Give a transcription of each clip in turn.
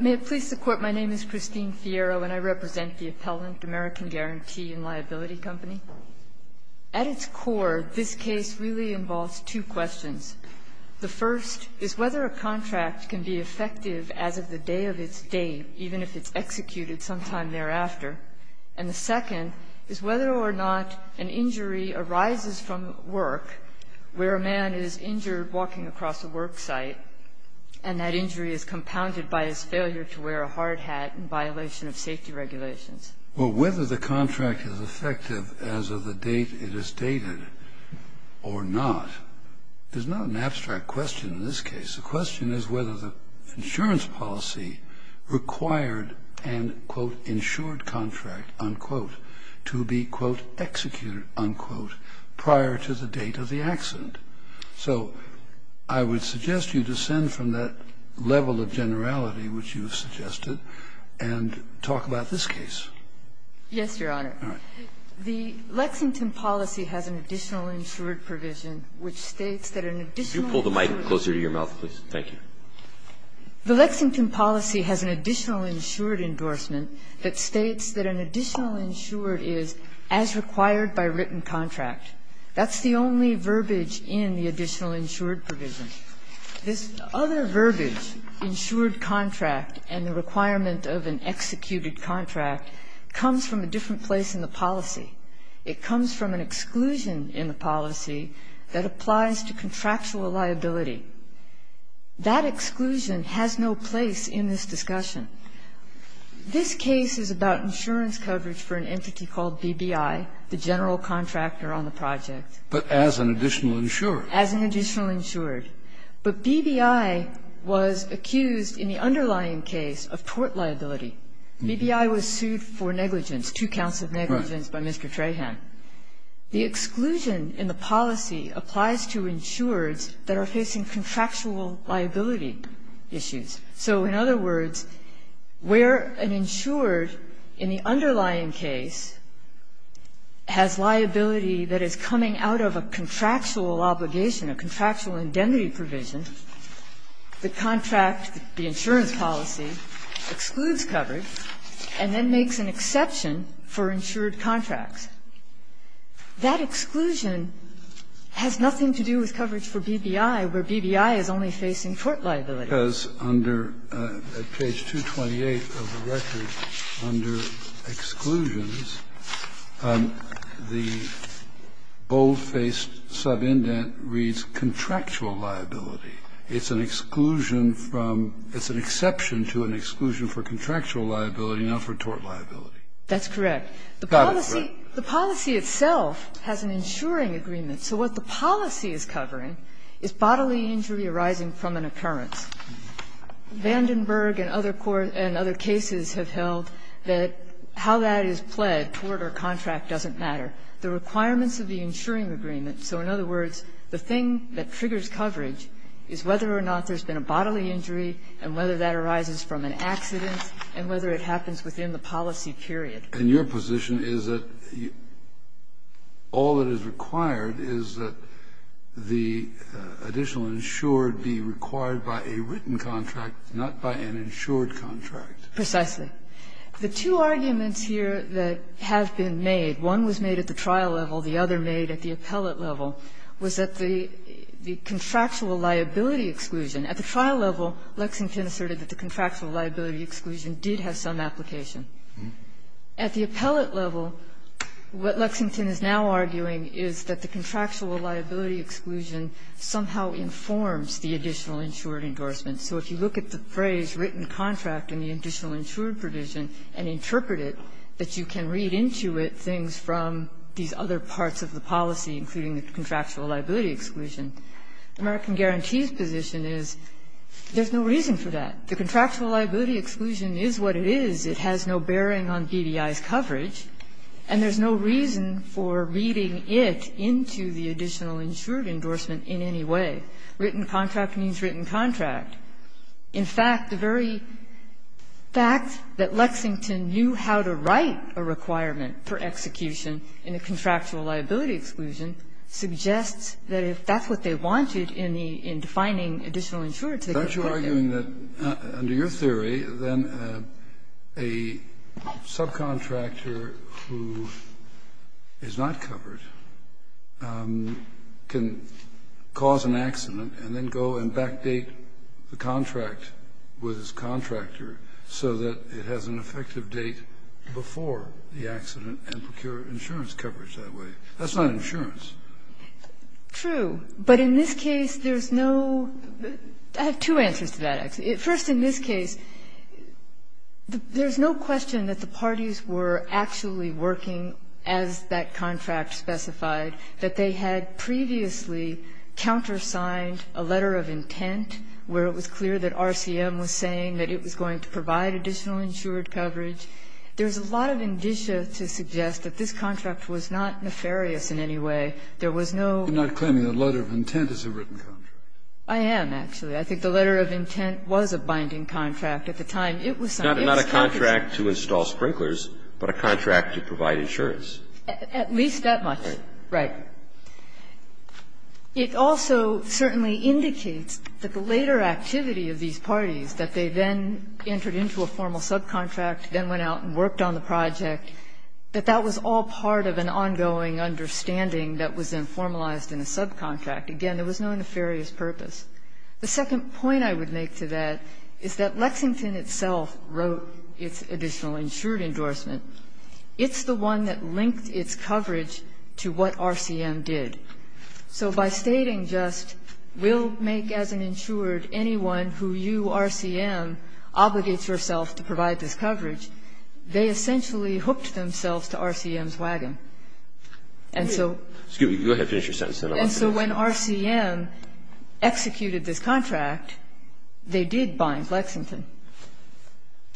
May it please the Court, my name is Christine Fierro, and I represent the appellant, American Guarantee & Liability Company. At its core, this case really involves two questions. The first is whether a contract can be effective as of the day of its date, even if it's executed sometime thereafter. And the second is whether or not an injury arises from work, where a man is injured walking across a work site, and that injury is compounded by his failure to wear a hard hat in violation of safety regulations. Well, whether the contract is effective as of the date it is dated or not, there's not an abstract question in this case. The question is whether the insurance policy required an insured contract to be executed prior to the date of the accident. So I would suggest you descend from that level of generality which you've suggested and talk about this case. Yes, Your Honor. All right. The Lexington policy has an additional insured provision, which states that an additional insured endorsement. Could you pull the mic closer to your mouth, please? Thank you. The Lexington policy has an additional insured endorsement that states that an additional insured is as required by written contract. That's the only verbiage in the additional insured provision. This other verbiage, insured contract and the requirement of an executed contract, comes from a different place in the policy. It comes from an exclusion in the policy that applies to contractual liability. That exclusion has no place in this discussion. This case is about insurance coverage for an entity called BBI, the general contractor on the project. But as an additional insured. As an additional insured. But BBI was accused in the underlying case of tort liability. BBI was sued for negligence, two counts of negligence by Mr. Trahan. The exclusion in the policy applies to insureds that are facing contractual liability issues. So in other words, where an insured in the underlying case has liability that is coming out of a contractual obligation, a contractual indemnity provision, the contract, the insurance policy excludes coverage and then makes an exception for insured contracts. That exclusion has nothing to do with coverage for BBI, where BBI is only facing tort liability. Kennedy. And that's because under at page 228 of the record, under exclusions, the bold-faced subindent reads contractual liability. It's an exclusion from, it's an exception to an exclusion for contractual liability, not for tort liability. That's correct. The policy itself has an insuring agreement. So what the policy is covering is bodily injury arising from an occurrence. Vandenberg and other cases have held that how that is pled, tort or contract, doesn't matter. The requirements of the insuring agreement, so in other words, the thing that triggers coverage is whether or not there's been a bodily injury and whether that arises from an accident and whether it happens within the policy period. And your position is that all that is required is that the additional insured be required by a written contract, not by an insured contract. Precisely. The two arguments here that have been made, one was made at the trial level, the other made at the appellate level, was that the contractual liability exclusion, at the trial level, Lexington asserted that the contractual liability exclusion did have some application. At the appellate level, what Lexington is now arguing is that the contractual liability exclusion somehow informs the additional insured endorsement. So if you look at the phrase, written contract, in the additional insured provision and interpret it, that you can read into it things from these other parts of the policy, including the contractual liability exclusion. American Guarantees' position is there's no reason for that. The contractual liability exclusion is what it is. It has no bearing on BDI's coverage. And there's no reason for reading it into the additional insured endorsement in any way. Written contract means written contract. In fact, the very fact that Lexington knew how to write a requirement for execution in a contractual liability exclusion suggests that if that's what they wanted in the defining additional insured to the contract. Kennedy, I'm arguing that under your theory, then a subcontractor who is not covered can cause an accident and then go and backdate the contract with his contractor so that it has an effective date before the accident and procure insurance coverage that way. That's not insurance. True. But in this case, there's no – I have two answers to that, actually. First, in this case, there's no question that the parties were actually working as that contract specified, that they had previously countersigned a letter of intent where it was clear that RCM was saying that it was going to provide additional insured coverage. There's a lot of indicia to suggest that this contract was not nefarious in any way. There was no – Kennedy, I'm arguing that under your theory, then a subcontractor who is not covered can cause an accident and then go and backdate the contract with his contractor so that it has an effective date before the accident. I'm arguing that under your theory, then a subcontractor who is not covered can cause an accident and then go and backdate the contract where it was clear that RCM was saying that it was going to provide additional insured coverage. I'm arguing that under your theory, then a subcontractor who is not covered can cause an accident and then go and backdate the contract. Again, there was no nefarious purpose. The second point I would make to that is that Lexington itself wrote its additional insured endorsement. It's the one that linked its coverage to what RCM did. So by stating just we'll make as an insured anyone who you, RCM, obligates herself to provide this coverage, they essentially hooked themselves to RCM's wagon. And so – Excuse me. Go ahead. Finish your sentence. And so when RCM executed this contract, they did bind Lexington.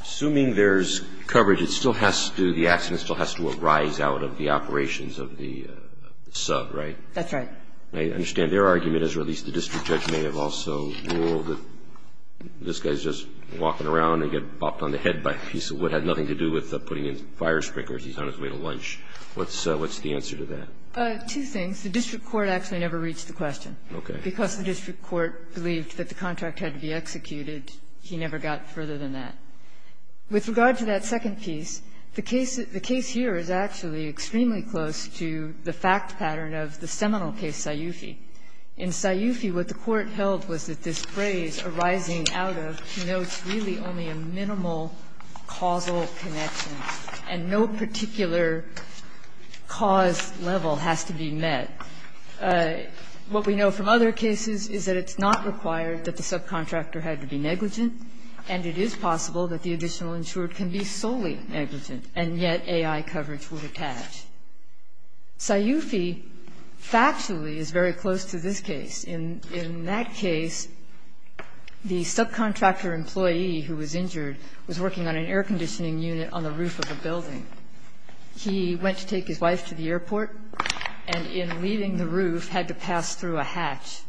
Assuming there's coverage, it still has to – the accident still has to arise out of the operations of the sub, right? That's right. I understand their argument is, or at least the district judge may have also ruled that this guy is just walking around and get bopped on the head by a piece of wood. It had nothing to do with putting in fire sprinklers. He's on his way to lunch. What's the answer to that? Two things. The district court actually never reached the question. Okay. Because the district court believed that the contract had to be executed, he never got further than that. With regard to that second piece, the case here is actually extremely close to the fact pattern of the seminal case Sciufi. In Sciufi, what the court held was that this phrase, arising out of, denotes really only a minimal causal connection, and no particular cause level has to be met. What we know from other cases is that it's not required that the subcontractor had to be negligent, and it is possible that the additional insured can be solely negligent, and yet AI coverage would attach. Sciufi factually is very close to this case. In that case, the subcontractor employee who was injured was working on an air conditioning unit on the roof of a building. He went to take his wife to the airport, and in leaving the roof, had to pass through a hatch.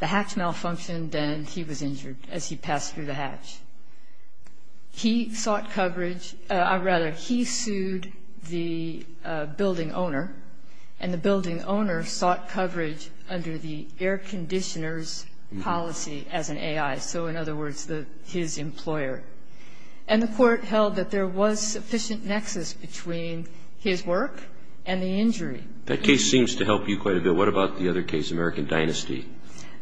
The hatch malfunctioned, and he was injured as he passed through the hatch. He sought coverage, or rather, he sued the building owner, and the building owner sought coverage under the air conditioner's policy as an AI, so in other words, his employer. And the court held that there was sufficient nexus between his work and the injury. That case seems to help you quite a bit. What about the other case, American Dynasty?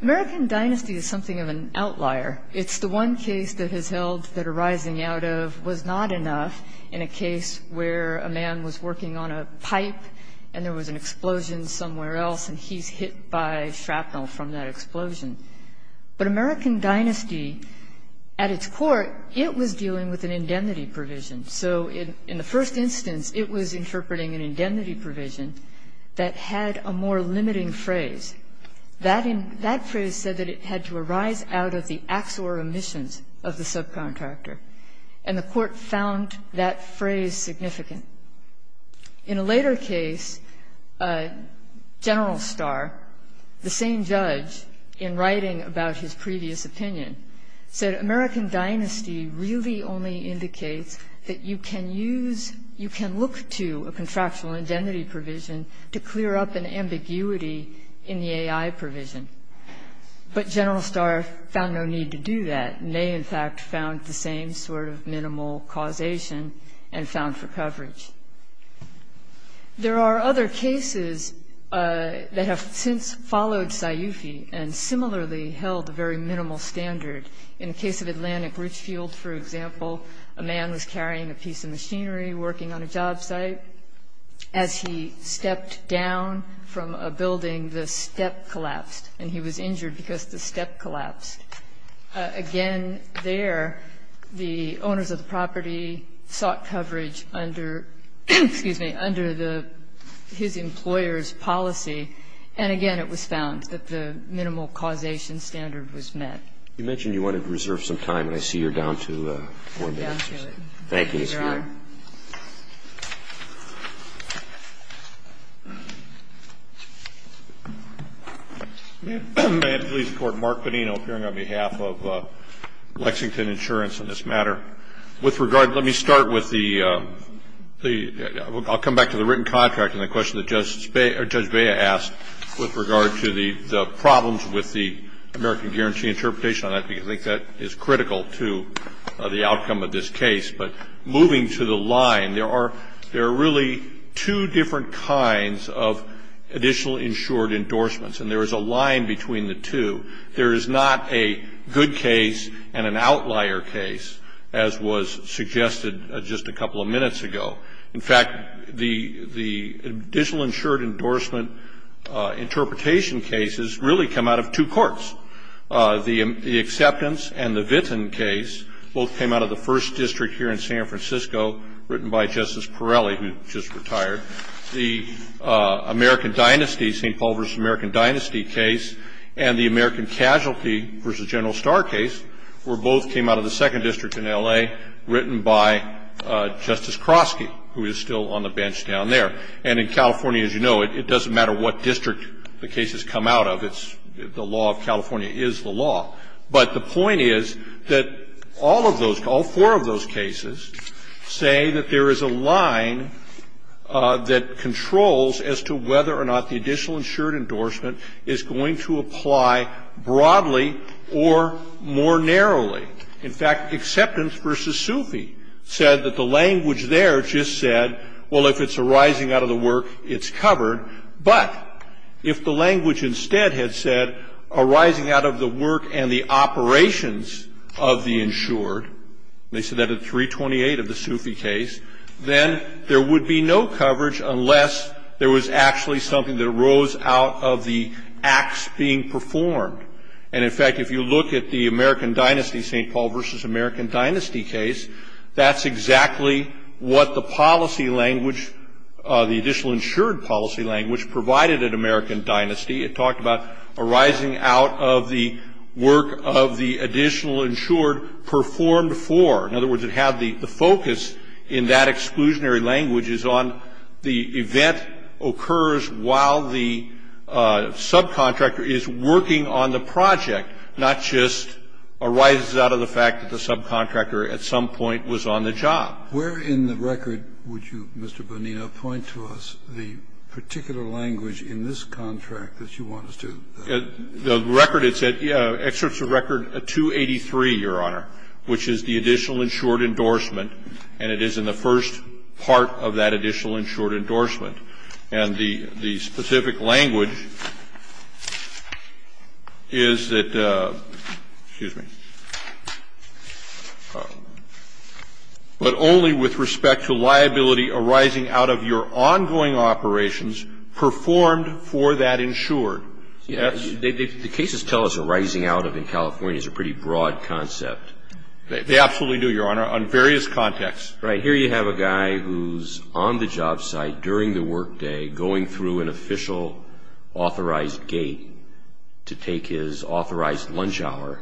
American Dynasty is something of an outlier. It's the one case that has held that a rising out of was not enough in a case where a man was working on a pipe, and there was an explosion somewhere else, and he's hit by shrapnel from that explosion. But American Dynasty, at its core, it was dealing with an indemnity provision. So in the first instance, it was interpreting an indemnity provision that had a more limiting phrase. That phrase said that it had to arise out of the acts or omissions of the subcontractor, and the court found that phrase significant. In a later case, General Starr, the same judge, in writing about his previous opinion, said, American Dynasty really only indicates that you can use, you can look to a contractual indemnity provision to clear up an ambiguity in the AI provision. But General Starr found no need to do that, and they, in fact, found the same sort of minimal causation and found for coverage. There are other cases that have since followed Sayufi and similarly held a very minimal standard. In the case of Atlantic Richfield, for example, a man was carrying a piece of property, as he stepped down from a building, the step collapsed, and he was injured because the step collapsed. Again, there, the owners of the property sought coverage under, excuse me, under the his employer's policy, and again, it was found that the minimal causation standard was met. You mentioned you wanted to reserve some time, and I see you're down to four minutes. I'm down to it. Thank you, Ms. Feiglin. May I please report, Mark Bonino, appearing on behalf of Lexington Insurance on this matter. With regard, let me start with the the, I'll come back to the written contract and the question that Judge Bea asked with regard to the problems with the American Guarantee interpretation on that, because I think that is critical to the outcome of this case. But moving to the line, there are really two different kinds of additional insured endorsements, and there is a line between the two. There is not a good case and an outlier case, as was suggested just a couple of minutes ago. In fact, the additional insured endorsement interpretation cases really come out of two courts. The Acceptance and the Vinton case both came out of the first district here in San Francisco, written by Justice Pirelli, who just retired. The American Dynasty, St. Paul v. American Dynasty case, and the American Casualty v. General Starr case, were both came out of the second district in L.A., written by Justice Krosky, who is still on the bench down there. And in California, as you know, it doesn't matter what district the case has come out of. The law of California is the law. But the point is that all of those, all four of those cases, say that there is a line that controls as to whether or not the additional insured endorsement is going to apply broadly or more narrowly. In fact, Acceptance v. Sufi said that the language there just said, well, if it's arising out of the work, it's covered. But if the language instead had said arising out of the work and the operations of the insured, they said that at 328 of the Sufi case, then there would be no coverage unless there was actually something that arose out of the acts being performed. And in fact, if you look at the American Dynasty, St. Paul v. American Dynasty case, that's exactly what the policy language, the additional insured policy language provided at American Dynasty, it talked about arising out of the work of the additional insured performed for. In other words, it had the focus in that exclusionary language is on the event occurs while the subcontractor is working on the project, not just arises out of the fact that the subcontractor at some point was on the job. Where in the record would you, Mr. Bonino, point to us the particular language in this contract that you want us to? The record, it said, excerpts of record 283, Your Honor, which is the additional insured endorsement, and it is in the first part of that additional insured endorsement. And the specific language is that, excuse me. But only with respect to liability arising out of your ongoing operations performed for that insured. Yes. The cases tell us arising out of in California is a pretty broad concept. They absolutely do, Your Honor, on various contexts. Right. Here you have a guy who's on the job site during the workday going through an official authorized gate to take his authorized lunch hour.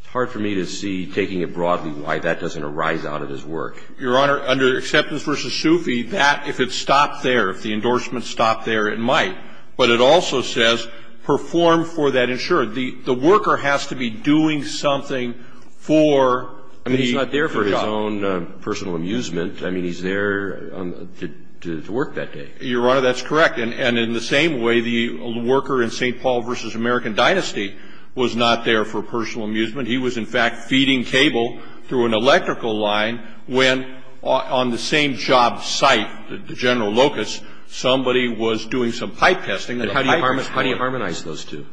It's hard for me to see, taking it broadly, why that doesn't arise out of his work. Your Honor, under Acceptance v. Sufi, that, if it stopped there, if the endorsement stopped there, it might. But it also says performed for that insured. The worker has to be doing something for the job. I mean, he's not there for his own personal amusement. I mean, he's there to work that day. Your Honor, that's correct. And in the same way, the worker in St. Paul v. American Dynasty was not there for personal amusement. He was, in fact, feeding cable through an electrical line when, on the same job site, the General Locus, somebody was doing some pipe testing. How do you harmonize those two?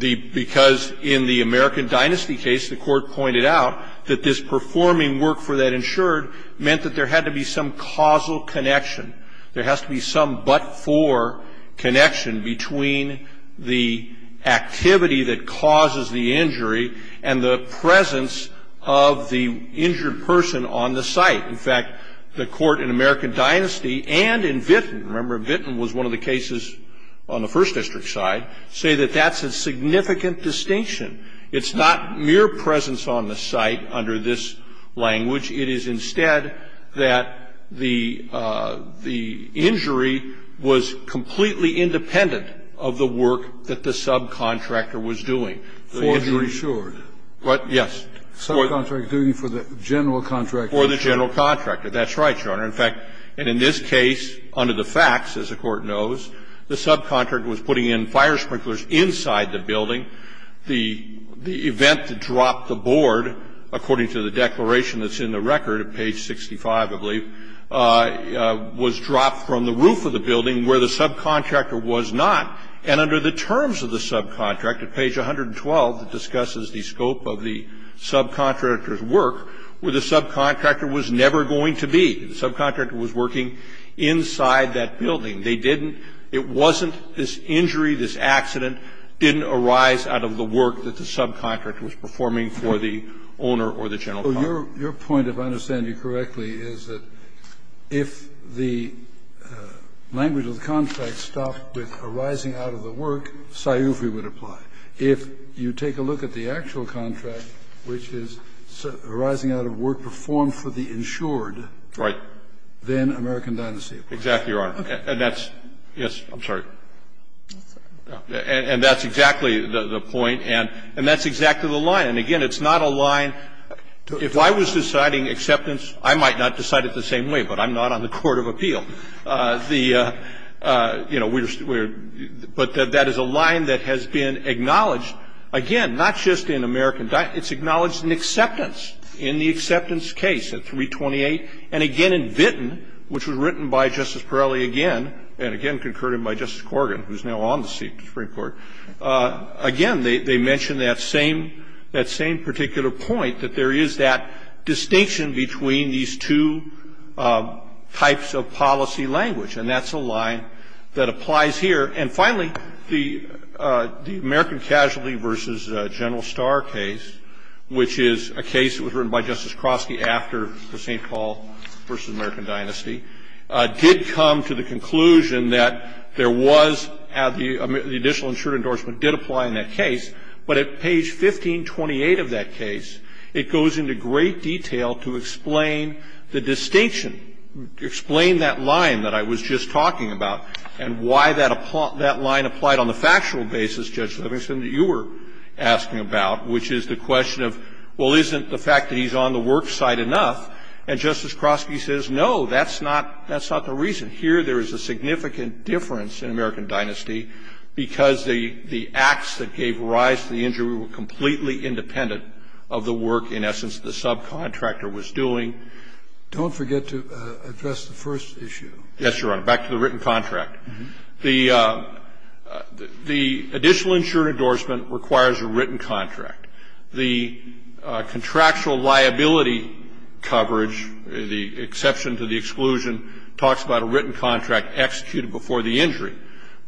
Because in the American Dynasty case, the Court pointed out that this performing work for that insured meant that there had to be some causal connection. There has to be some but-for connection between the activity that causes the injury and the presence of the injured person on the site. In fact, the Court in American Dynasty and in Vinton, remember Vinton was one of the cases on the First District side, say that that's a significant distinction. It's not mere presence on the site under this language. It is instead that the injury was completely independent of the work that the subcontractor was doing. For the insured. What? Yes. Subcontractor doing it for the general contractor. For the general contractor. That's right, Your Honor. In fact, and in this case, under the facts, as the Court knows, the subcontractor was putting in fire sprinklers inside the building. The event that dropped the board, according to the declaration that's in the record at page 65, I believe, was dropped from the roof of the building where the subcontractor was not. And under the terms of the subcontractor, page 112 discusses the scope of the subcontractor's work, where the subcontractor was never going to be. The subcontractor was working inside that building. They didn't. It wasn't this injury, this accident, didn't arise out of the work that the subcontractor was performing for the owner or the general contractor. Your point, if I understand you correctly, is that if the language of the contract stopped with arising out of the work, sciufi would apply. If you take a look at the actual contract, which is arising out of work performed for the insured. Right. Then American Dynasty applies. Exactly, Your Honor. And that's, yes, I'm sorry. And that's exactly the point, and that's exactly the line. And again, it's not a line. If I was deciding acceptance, I might not decide it the same way, but I'm not on the court of appeal. The, you know, we're, but that is a line that has been acknowledged, again, not just in American Dynasty. It's acknowledged in acceptance, in the acceptance case at 328, and again in Vinton, which was written by Justice Perali again, and again concurred by Justice Corrigan, who is now on the Supreme Court. Again, they mention that same, that same particular point, that there is that distinction between these two types of policy language, and that's a line that applies here. And finally, the American Casualty v. General Starr case, which is a case that was filed by Judge Krosky after the St. Paul v. American Dynasty, did come to the conclusion that there was, the additional insured endorsement did apply in that case, but at page 1528 of that case, it goes into great detail to explain the distinction, explain that line that I was just talking about, and why that line applied on the factual basis, Judge Livingston, that you were asking about, which is the question of, well, isn't the fact that he's on the work side enough? And Justice Krosky says, no, that's not, that's not the reason. Here, there is a significant difference in American Dynasty, because the, the acts that gave rise to the injury were completely independent of the work, in essence, the subcontractor was doing. Don't forget to address the first issue. Yes, Your Honor. Back to the written contract. The, the additional insured endorsement requires a written contract. The contractual liability coverage, the exception to the exclusion, talks about a written contract executed before the injury.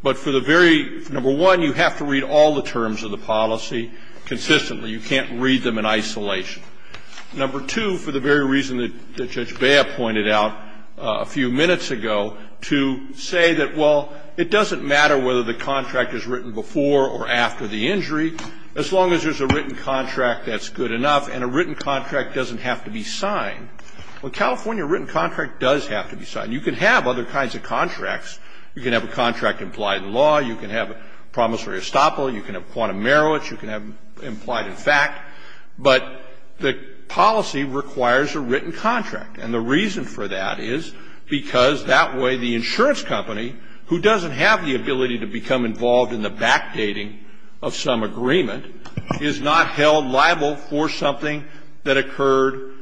But for the very, number one, you have to read all the terms of the policy consistently. You can't read them in isolation. Number two, for the very reason that Judge Bea pointed out a few minutes ago, to say that, well, it doesn't matter whether the contract is written before or after the injury, as long as there's a written contract that's good enough, and a written contract doesn't have to be signed. Well, California, a written contract does have to be signed. You can have other kinds of contracts. You can have a contract implied in law. You can have promissory estoppel. You can have quantum merits. You can have implied in fact. But the policy requires a written contract. And the reason for that is because that way, the insurance company, who doesn't have the ability to become involved in the backdating of some agreement, is not held liable for something that occurred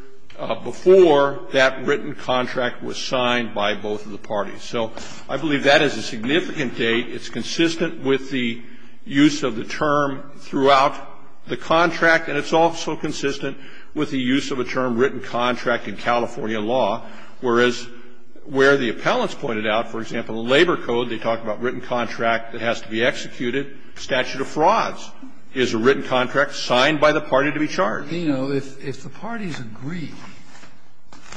before that written contract was signed by both of the parties. So I believe that is a significant date. It's consistent with the use of the term throughout the contract. And it's also consistent with the use of a term, written contract, in California law. Whereas where the appellants pointed out, for example, the labor code, they talk about written contract that has to be executed, statute of frauds is a written contract signed by the party to be charged. Kennedy, if the parties agree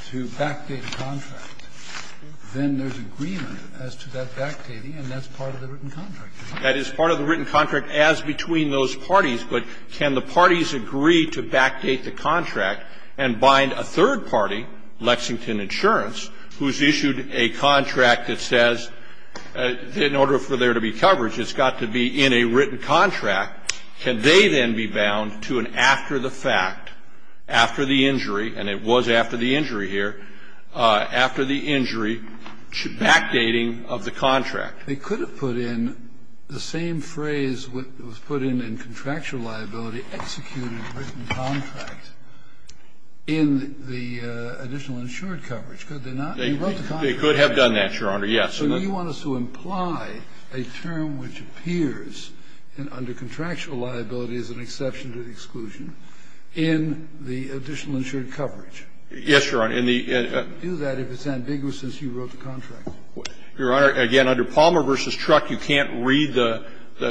to backdate a contract, then there's agreement as to that backdating, and that's part of the written contract. That is part of the written contract as between those parties, but can the parties agree to backdate the contract and bind a third party, Lexington Insurance, who's issued a contract that says, in order for there to be coverage, it's got to be in a written contract, can they then be bound to an after the fact, after the injury, and it was after the injury here, after the injury, backdating of the contract? They could have put in the same phrase that was put in in contractual liability, executed written contract, in the additional insured coverage, could they not? They could have done that, Your Honor, yes. So you want us to imply a term which appears under contractual liability as an exception to the exclusion in the additional insured coverage? Yes, Your Honor. You can't do that if it's ambiguous since you wrote the contract. Your Honor, again, under Palmer v. Truck, you can't read the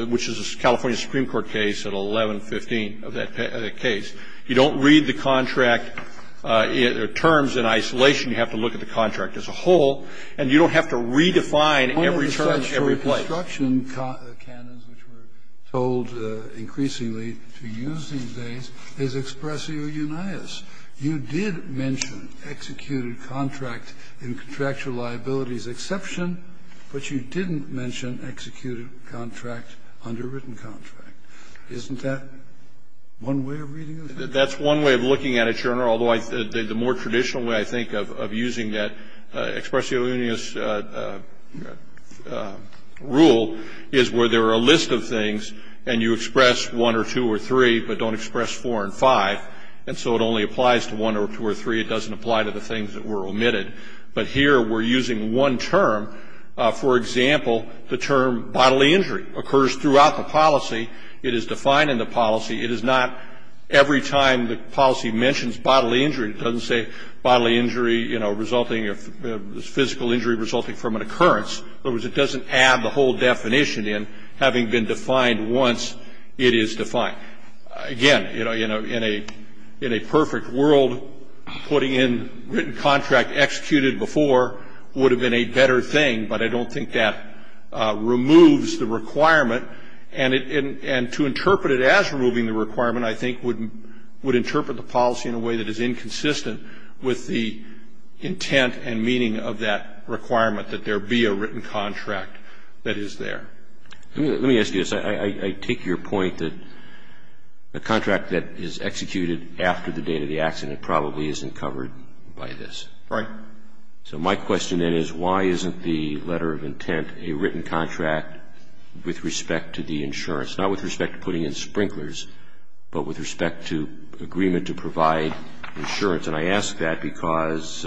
– which is a California Supreme Court case at 1115 of that case. You don't read the contract terms in isolation. You have to look at the contract as a whole. And you don't have to redefine every term in every place. One of the construction canons which we're told increasingly to use these days is expressio unias. You did mention executed contract in contractual liability as an exception, but you didn't mention executed contract under written contract. Isn't that one way of reading it? That's one way of looking at it, Your Honor, although the more traditional way, I think, of using that expressio unias rule is where there are a list of things and you express one or two or three but don't express four and five, and so it only applies to one or two or three. It doesn't apply to the things that were omitted. But here we're using one term. For example, the term bodily injury occurs throughout the policy. It is defined in the policy. It is not every time the policy mentions bodily injury, it doesn't say bodily injury resulting – physical injury resulting from an occurrence. In other words, it doesn't add the whole definition in, having been defined once it is defined. Now, again, in a perfect world, putting in written contract executed before would have been a better thing, but I don't think that removes the requirement. And to interpret it as removing the requirement, I think, would interpret the policy in a way that is inconsistent with the intent and meaning of that requirement, that there be a written contract that is there. Let me ask you this. I take your point that the contract that is executed after the date of the accident probably isn't covered by this. Right. So my question then is why isn't the letter of intent a written contract with respect to the insurance, not with respect to putting in sprinklers, but with respect to agreement to provide insurance? And I ask that because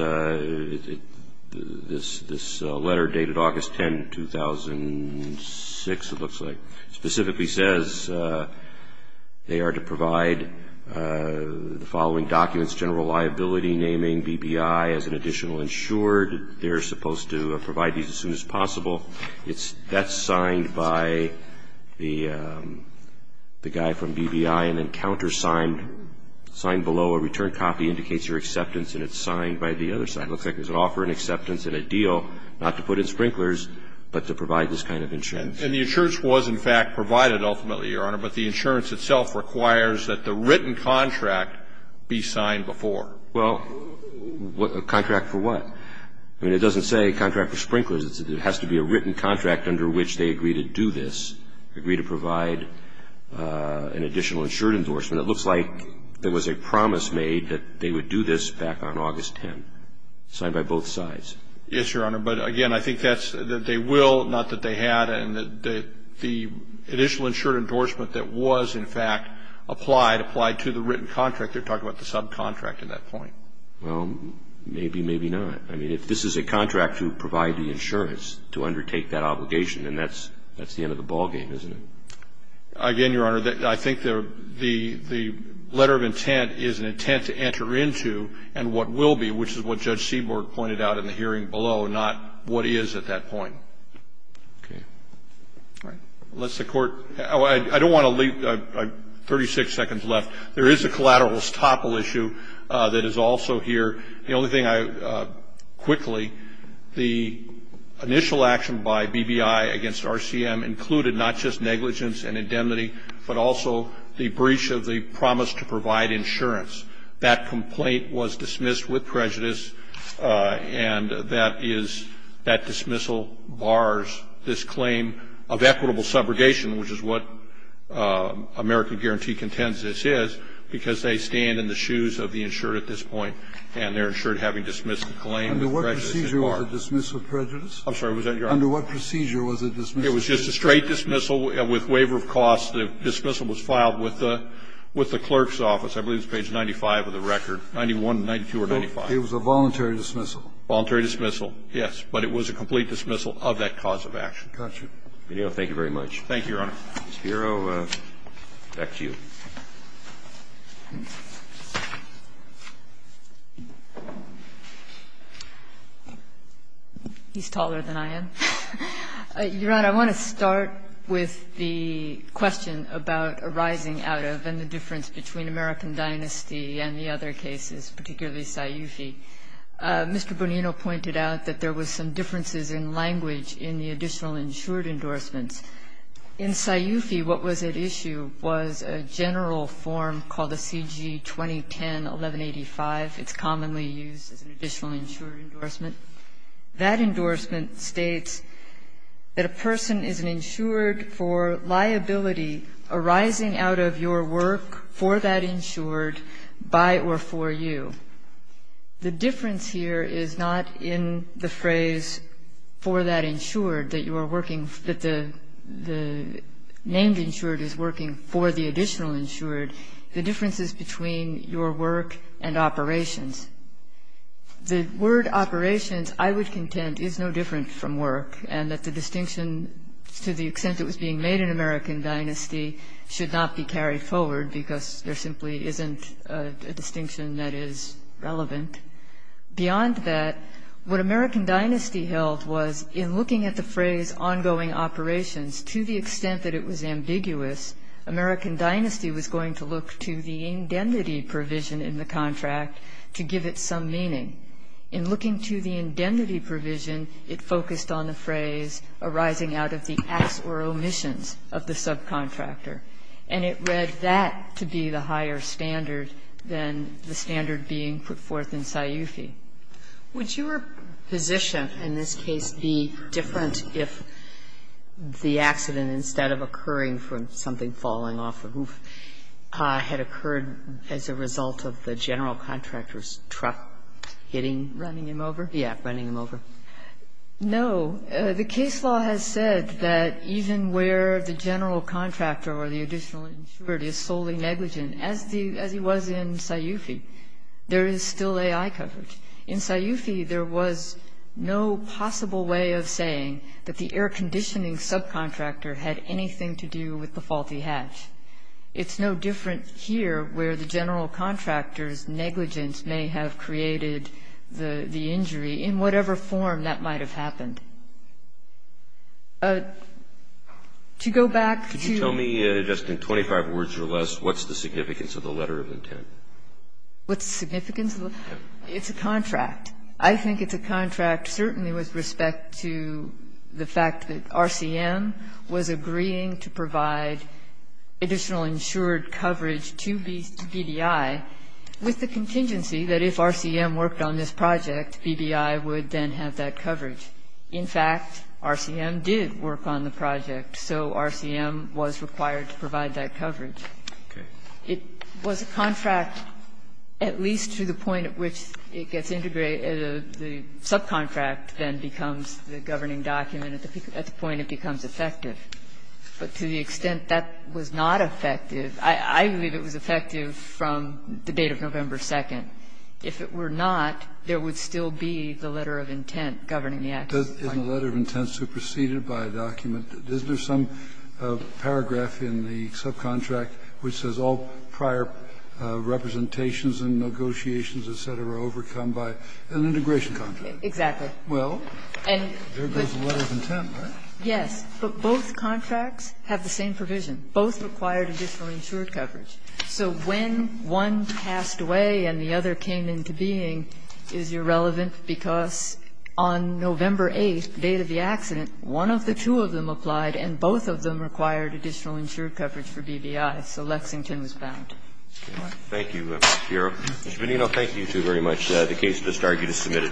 this letter dated August 10, 2006, it looks like, specifically says they are to provide the following documents, general liability naming, BBI as an additional insured. They're supposed to provide these as soon as possible. That's signed by the guy from BBI, and then countersigned, signed below a return copy indicates your acceptance, and it's signed by the other side. It looks like there's an offer and acceptance and a deal not to put in sprinklers, but to provide this kind of insurance. And the insurance was, in fact, provided ultimately, Your Honor, but the insurance itself requires that the written contract be signed before. Well, a contract for what? I mean, it doesn't say contract for sprinklers. It has to be a written contract under which they agree to do this, agree to provide an additional insured endorsement. And it looks like there was a promise made that they would do this back on August 10, signed by both sides. Yes, Your Honor. But, again, I think that's that they will, not that they had, and that the additional insured endorsement that was, in fact, applied, applied to the written contract. They're talking about the subcontract at that point. Well, maybe, maybe not. I mean, if this is a contract to provide the insurance to undertake that obligation, then that's the end of the ballgame, isn't it? Again, Your Honor, I think that the letter of intent is an intent to enter into and what will be, which is what Judge Seaborg pointed out in the hearing below, not what is at that point. Okay. All right. Unless the Court, I don't want to leave 36 seconds left. There is a collateral estoppel issue that is also here. The only thing I, quickly, the initial action by BBI against RCM included not just the negligence and indemnity, but also the breach of the promise to provide insurance. That complaint was dismissed with prejudice, and that is, that dismissal bars this claim of equitable subrogation, which is what American Guarantee contends this is, because they stand in the shoes of the insured at this point, and they're insured having dismissed the claim. Under what procedure was it dismissed with prejudice? I'm sorry, was that Your Honor? Under what procedure was it dismissed with prejudice? It was just a straight dismissal with waiver of cost. The dismissal was filed with the clerk's office. I believe it's page 95 of the record, 91, 92, or 95. It was a voluntary dismissal. Voluntary dismissal, yes. But it was a complete dismissal of that cause of action. Got you. Thank you very much. Thank you, Your Honor. Ms. Piero, back to you. He's taller than I am. Your Honor, I want to start with the question about arising out of and the difference between American Dynasty and the other cases, particularly Sciufi. Mr. Bonino pointed out that there was some differences in language in the additional insured endorsements. In Sciufi, what was at issue was a general form called the CG 2010-1185. It's commonly used as an additional insured endorsement. That endorsement states that a person is an insured for liability arising out of your work for that insured by or for you. The difference here is not in the phrase for that insured that you are working, that the named insured is working for the additional insured. The difference is between your work and operations. The word operations, I would contend, is no different from work and that the distinction to the extent it was being made in American Dynasty should not be carried forward because there simply isn't a distinction that is relevant. Beyond that, what American Dynasty held was in looking at the phrase ongoing operations, to the extent that it was ambiguous, American Dynasty was going to look to the indemnity provision in the contract to give it some meaning. In looking to the indemnity provision, it focused on the phrase arising out of the acts or omissions of the subcontractor. And it read that to be the higher standard than the standard being put forth in Sciufi. Would your position in this case be different if the accident, instead of occurring from something falling off the roof, had occurred as a result of the general contractor's truck hitting? Running him over? Yeah, running him over. No. The case law has said that even where the general contractor or the additional insured is solely negligent, as he was in Sciufi, there is still AI coverage. In Sciufi, there was no possible way of saying that the air conditioning subcontractor had anything to do with the faulty hatch. It's no different here, where the general contractor's negligence may have created the injury in whatever form that might have happened. To go back to the ---- Could you tell me, just in 25 words or less, what's the significance of the letter of intent? What's the significance of the letter of intent? It's a contract. I think it's a contract certainly with respect to the fact that RCM was agreeing to provide additional insured coverage to BDI with the contingency that if RCM worked on this project, BDI would then have that coverage. In fact, RCM did work on the project, so RCM was required to provide that coverage. Okay. It was a contract, at least to the point at which it gets integrated. The subcontract then becomes the governing document at the point it becomes effective. But to the extent that was not effective, I believe it was effective from the date of November 2nd. If it were not, there would still be the letter of intent governing the access. In the letter of intent superseded by a document, is there some paragraph in the subcontract which says all prior representations and negotiations, et cetera, are overcome by an integration contract? Exactly. Well, there goes the letter of intent, right? Yes. But both contracts have the same provision. Both required additional insured coverage. So when one passed away and the other came into being is irrelevant because on November 8th, the date of the accident, one of the two of them applied and both of them required additional insured coverage for BBI. So Lexington was bound. Thank you, Ms. Fioro. Ms. Menino, thank you two very much. The case is submitted.